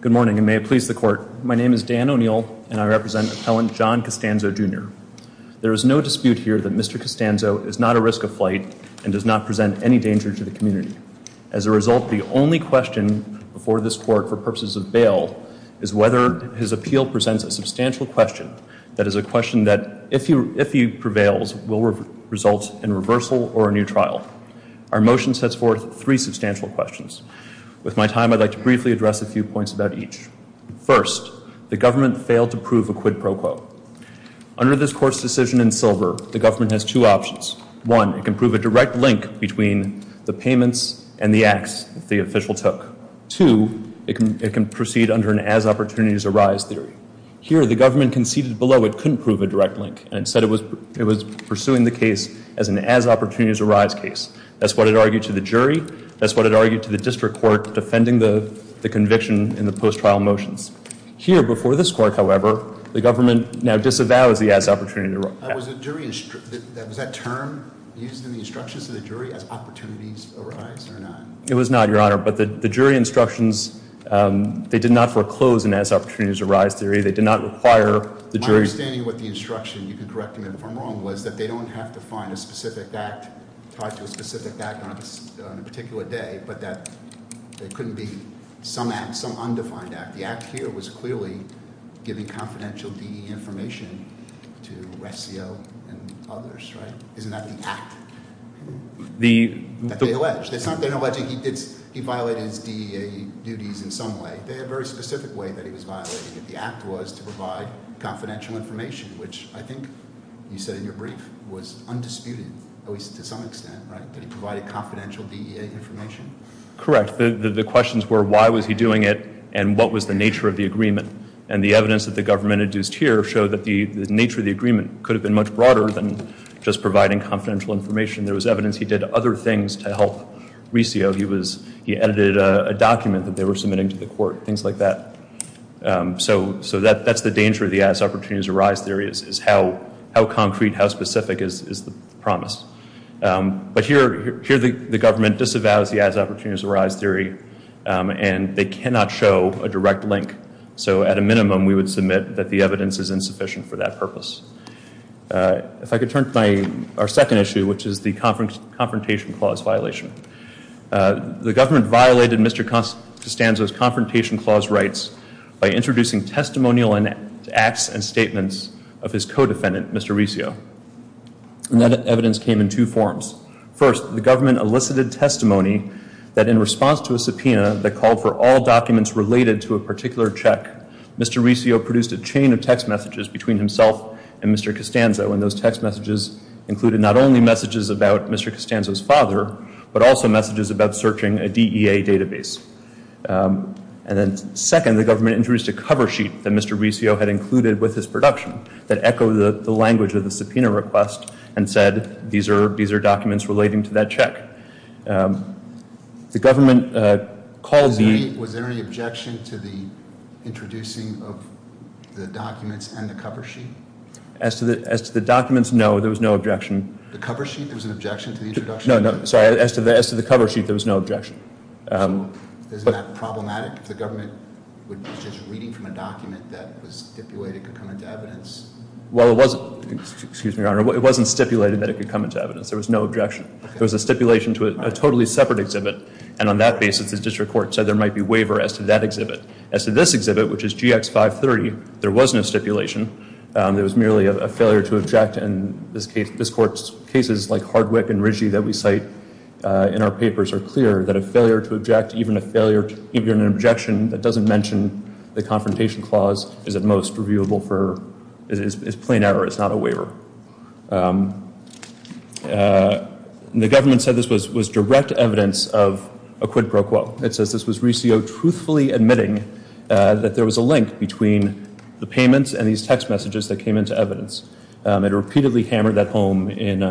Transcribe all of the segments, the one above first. Good morning and may it please the court. My name is Dan O'Neill and I represent appellant John Costanzo Jr. There is no dispute here that Mr. Costanzo is not a risk of flight and does not present any danger to the community. As a result the only question before this court for purposes of bail is whether his appeal presents a substantial question that is a question that if he prevails will result in reversal or a new trial. Our motion sets forth three substantial questions. With my time I'd like to briefly address a few points about each. First, the government failed to prove a quid pro quo. Under this court's decision in silver the government has two options. One, it can prove a direct link between the payments and the acts the official took. Two, it can proceed under an as opportunities arise theory. Here the government conceded below it couldn't prove a direct link and said it was it was pursuing the case as an as opportunities arise case. That's what it argued to the jury. That's what it argued to the district court defending the conviction in the post trial motions. Here before this court however the government now disavows the as Was that term used in the instructions to the jury as opportunities arise or not? It was not your honor but the jury instructions they did not foreclose an as opportunities arise theory. They did not require the jury. My understanding with the instruction you can correct me if I'm wrong was that they don't have to find a specific act tied to a specific act on a particular day but that it couldn't be some act some undefined act. The act here was clearly giving confidential DE information to Ressio and others, right? Isn't that the act that they allege? It's not that they're alleging he violated his DEA duties in some way. They had a very specific way that he was violating it. The act was to provide confidential information which I think you said in your brief was undisputed at least to some extent, right? That he provided confidential DEA information? Correct. The questions were why was he doing it and what was the nature of the agreement and the evidence that the government induced here showed that the nature of the agreement could have been much broader than just providing confidential information. There was evidence he did other things to help Ressio. He edited a document that they were submitting to the court, things like that. So that's the danger of the as opportunities arise theory is how concrete, how specific is the promise. But here the government disavows the as opportunities arise theory and they cannot show a direct link. So at a minimum we would submit that the evidence is insufficient for that purpose. If I could turn to our second issue which is the confrontation clause violation. The government violated Mr. Costanzo's confrontation clause rights by introducing testimonial and acts and statements of his co-defendant, Mr. Ressio. And that evidence came in two forms. First, the government elicited testimony that in response to a subpoena that called for all documents related to a particular check, Mr. Ressio produced a chain of text messages between himself and Mr. Costanzo. And those text messages included not only messages about Mr. Costanzo's father but also messages about searching a DEA database. And then second, the government introduced a cover sheet that Mr. Ressio had included with his production that echoed the language of the subpoena request and said these are these are documents relating to that check. The government called the... Was there any objection to the introducing of the documents and the cover sheet? As to the as to the documents, no. There was no objection. The cover sheet, there was an objection to the introduction? No, no. Sorry. As to the as to the cover sheet, there was no objection. So isn't that problematic? If the government was just reading from a document that was stipulated could come into evidence? Well, it wasn't. Excuse me, Your Honor. It wasn't stipulated that it could come into evidence. There was no objection. It was a stipulation to a totally separate exhibit and on that basis the district court said there might be waiver as to that exhibit. As to this exhibit, which is GX 530, there was no stipulation. There was merely a failure to object and this case, this court's cases like Hardwick and Riggi that we cite in our papers are clear that a failure to object, even a failure, even an objection that doesn't mention the confrontation clause is at most reviewable for, is plain error. It's not a waiver. The government said this was was direct evidence of a quid pro quo. It says this was Riccio truthfully admitting that there was a link between the payments and these text messages that came into evidence. It repeatedly hammered that home in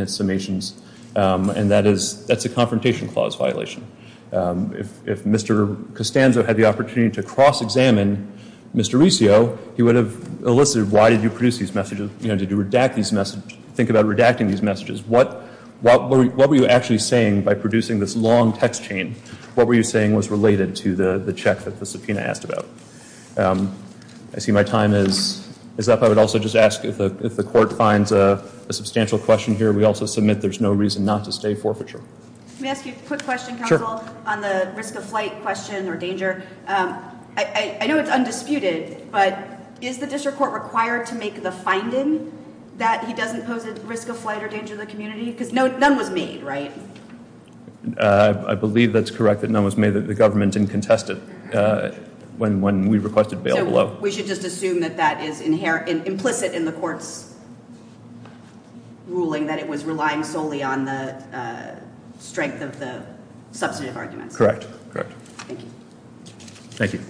its summations and that is, that's a confrontation clause violation. If Mr. Costanzo had the opportunity to cross-examine Mr. Riccio, he would have elicited why did you produce these messages? You know, did you redact these messages? Think about redacting these messages. What were you actually saying by producing this long text chain? What were you saying was related to the the check that the subpoena asked about? I see my time is up. I would also just ask if the court finds a substantial question here. We also submit there's no reason not to forfeiture. I know it's undisputed but is the district court required to make the finding that he doesn't pose a risk of flight or danger to the community? Because no, none was made, right? I believe that's correct that none was made that the government didn't contest it when when we requested bail below. We should just assume that that is inherent, implicit in the court's ruling that it was relying solely on the strength of the substantive arguments. Correct, correct. Thank you. Thank you.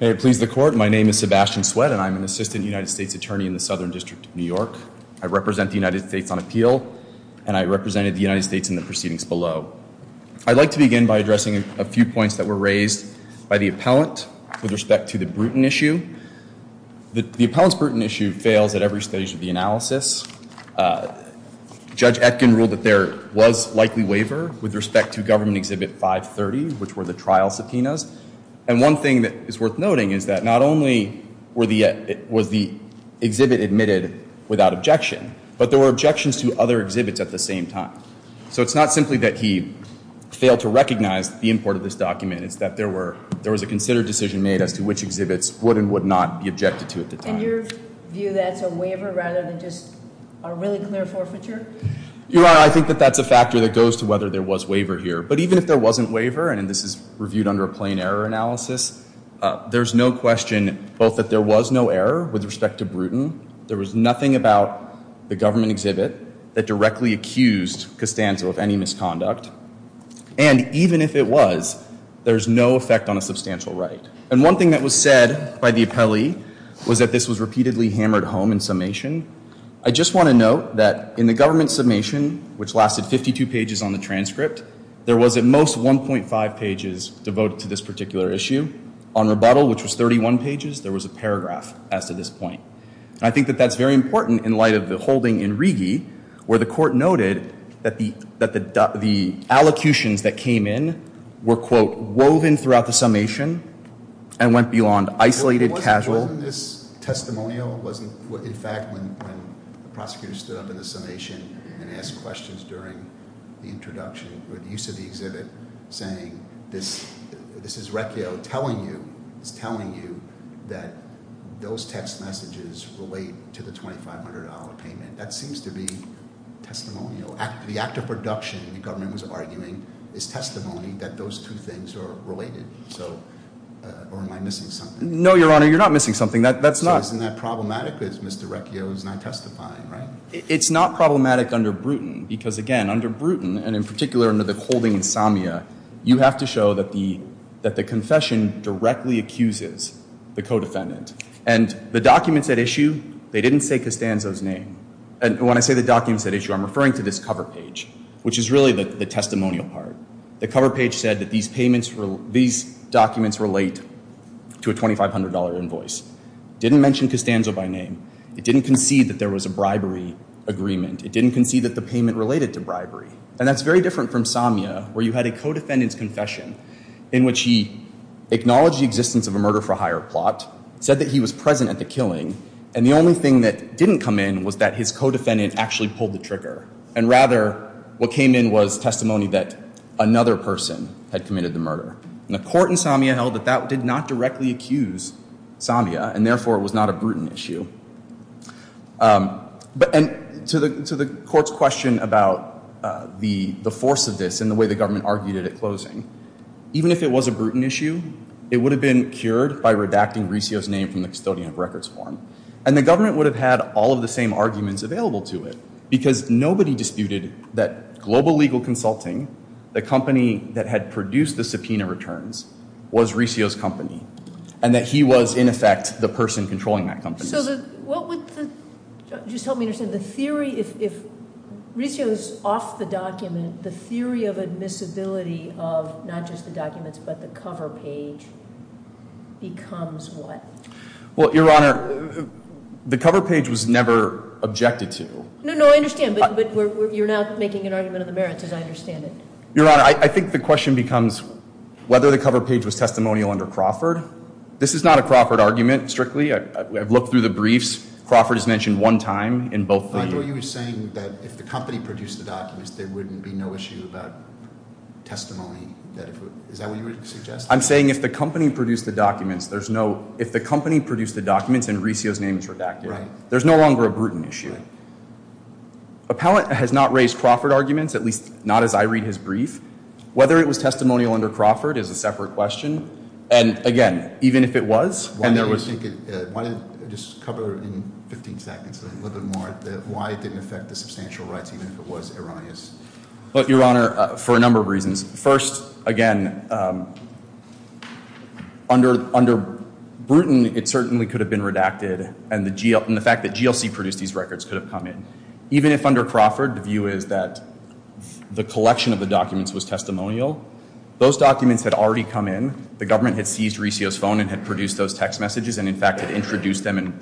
May it please the court, my name is Sebastian Sweat and I'm an assistant United States Attorney in the Southern District of New York. I represent the United States on appeal and I represented the United States in the proceedings below. I'd like to begin by addressing a few points that were raised by the appellant with respect to the Bruton issue. The appellant's Bruton issue fails at every stage of the analysis. Judge Etkin ruled that there was likely waiver with respect to government exhibit 530 which were the trial subpoenas and one thing that is worth noting is that not only was the exhibit admitted without objection but there were objections to other exhibits at the same time. So it's not simply that he failed to recognize the import of this document, it's that there were there was a considered decision made as to which exhibits would and would not be objected to at the time. And your view that's a waiver rather than just a really clear forfeiture? Your Honor, I think that that's a factor that goes to whether there was waiver here but even if there wasn't waiver and this is reviewed under a plain error analysis, there's no question both that there was no error with respect to Bruton, there was nothing about the government exhibit that directly accused Costanzo of any misconduct and even if it was, there's no effect on a substantial right. And one thing that was said by the appellee was that this was repeatedly hammered home in summation. I just want to note that in the government summation, which lasted 52 pages on the transcript, there was at most 1.5 pages devoted to this particular issue. On rebuttal, which was 31 pages, there was a paragraph as to this point. I think that that's very important in light of the holding in Rigi where the court noted that the allocutions that came in were quote, woven throughout the summation and went beyond isolated casual. Wasn't this testimonial, in fact, when the prosecutor stood up in the summation and asked questions during the introduction, or the use of the exhibit, saying this is Mr. Recchio telling you, is telling you that those text messages relate to the $2,500 payment. That seems to be testimonial. The act of reduction, the government was arguing, is testimony that those two things are related. So, or am I missing something? No, Your Honor, you're not missing something. That's not... So isn't that problematic because Mr. Recchio is not testifying, right? It's not problematic under Bruton, because again, under Bruton, and in particular under the holding in Samia, you have to show that the confession directly accuses the co-defendant. And the documents at issue, they didn't say Costanzo's name. And when I say the documents at issue, I'm referring to this cover page, which is really the testimonial part. The cover page said that these documents relate to a $2,500 invoice. Didn't mention Costanzo by name. It didn't concede that there was a bribery agreement. It didn't concede that the payment related to bribery. And that's very different from Samia, where you had a co-defendant's confession in which he acknowledged the existence of a murder-for-hire plot, said that he was present at the killing, and the only thing that didn't come in was that his co-defendant actually pulled the trigger. And rather, what came in was testimony that another person had committed the murder. And the court in Samia held that that did not directly accuse Samia, and therefore it was not a Bruton issue. And to the court's question about the force of this and the way the government argued it at closing, even if it was a Bruton issue, it would have been cured by redacting Resio's name from the custodian of records form. And the government would have had all of the same arguments available to it, because nobody disputed that Global Legal Consulting, the company that had produced the subpoena returns, was Resio's company, and that he was, in effect, the person controlling that company. So what would the, just help me understand, the theory, if Resio's off the document, the theory of admissibility of not just the documents, but the cover page, becomes what? Well, Your Honor, the cover page was never objected to. No, no, I understand, but you're now making an argument of the merits, as I understand it. Your Honor, I think the question becomes whether the cover page was testimonial under Crawford. This is not a Crawford argument, strictly. I've looked through the briefs. Crawford is mentioned one time in both briefs. I thought you were saying that if the company produced the documents, there wouldn't be no issue about testimony. Is that what you were suggesting? I'm saying if the company produced the documents, there's no, if the company produced the documents and Resio's name is redacted, there's no longer a Bruton issue. Appellant has not raised Crawford arguments, at least not as I read his brief. Whether it was testimonial under Crawford is a separate question. And again, even if it was, and there was... Why don't you just cover it in 15 seconds, a little bit more, why it didn't affect the substantial rights, even if it was erroneous. Well, Your Honor, for a number of reasons. First, again, under Bruton, it certainly could have been redacted, and the fact that GLC produced these records could have come in. Even if under Crawford, the view is that the collection of the documents was testimonial, those documents had already come in. The government had seized Resio's phone and had produced those text messages and, in fact, had introduced them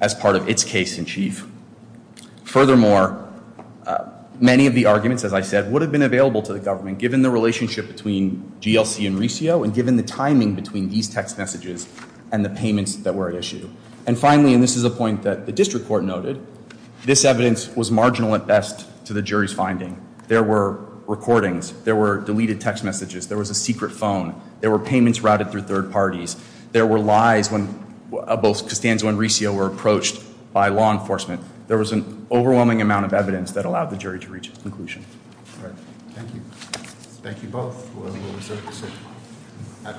as part of its case in chief. Furthermore, many of the arguments, as I said, would have been available to the government, given the relationship between GLC and Resio and given the timing between these text messages and the payments that were at issue. And finally, and this is a point that the district court noted, this evidence was marginal at best to the jury's finding. There were recordings. There were deleted text messages. There was a secret phone. There were payments routed through third parties. There were lies when both Costanzo and Resio were approached by law enforcement. There was an overwhelming amount of evidence that allowed the jury to reach a conclusion. Thank you. Thank you both.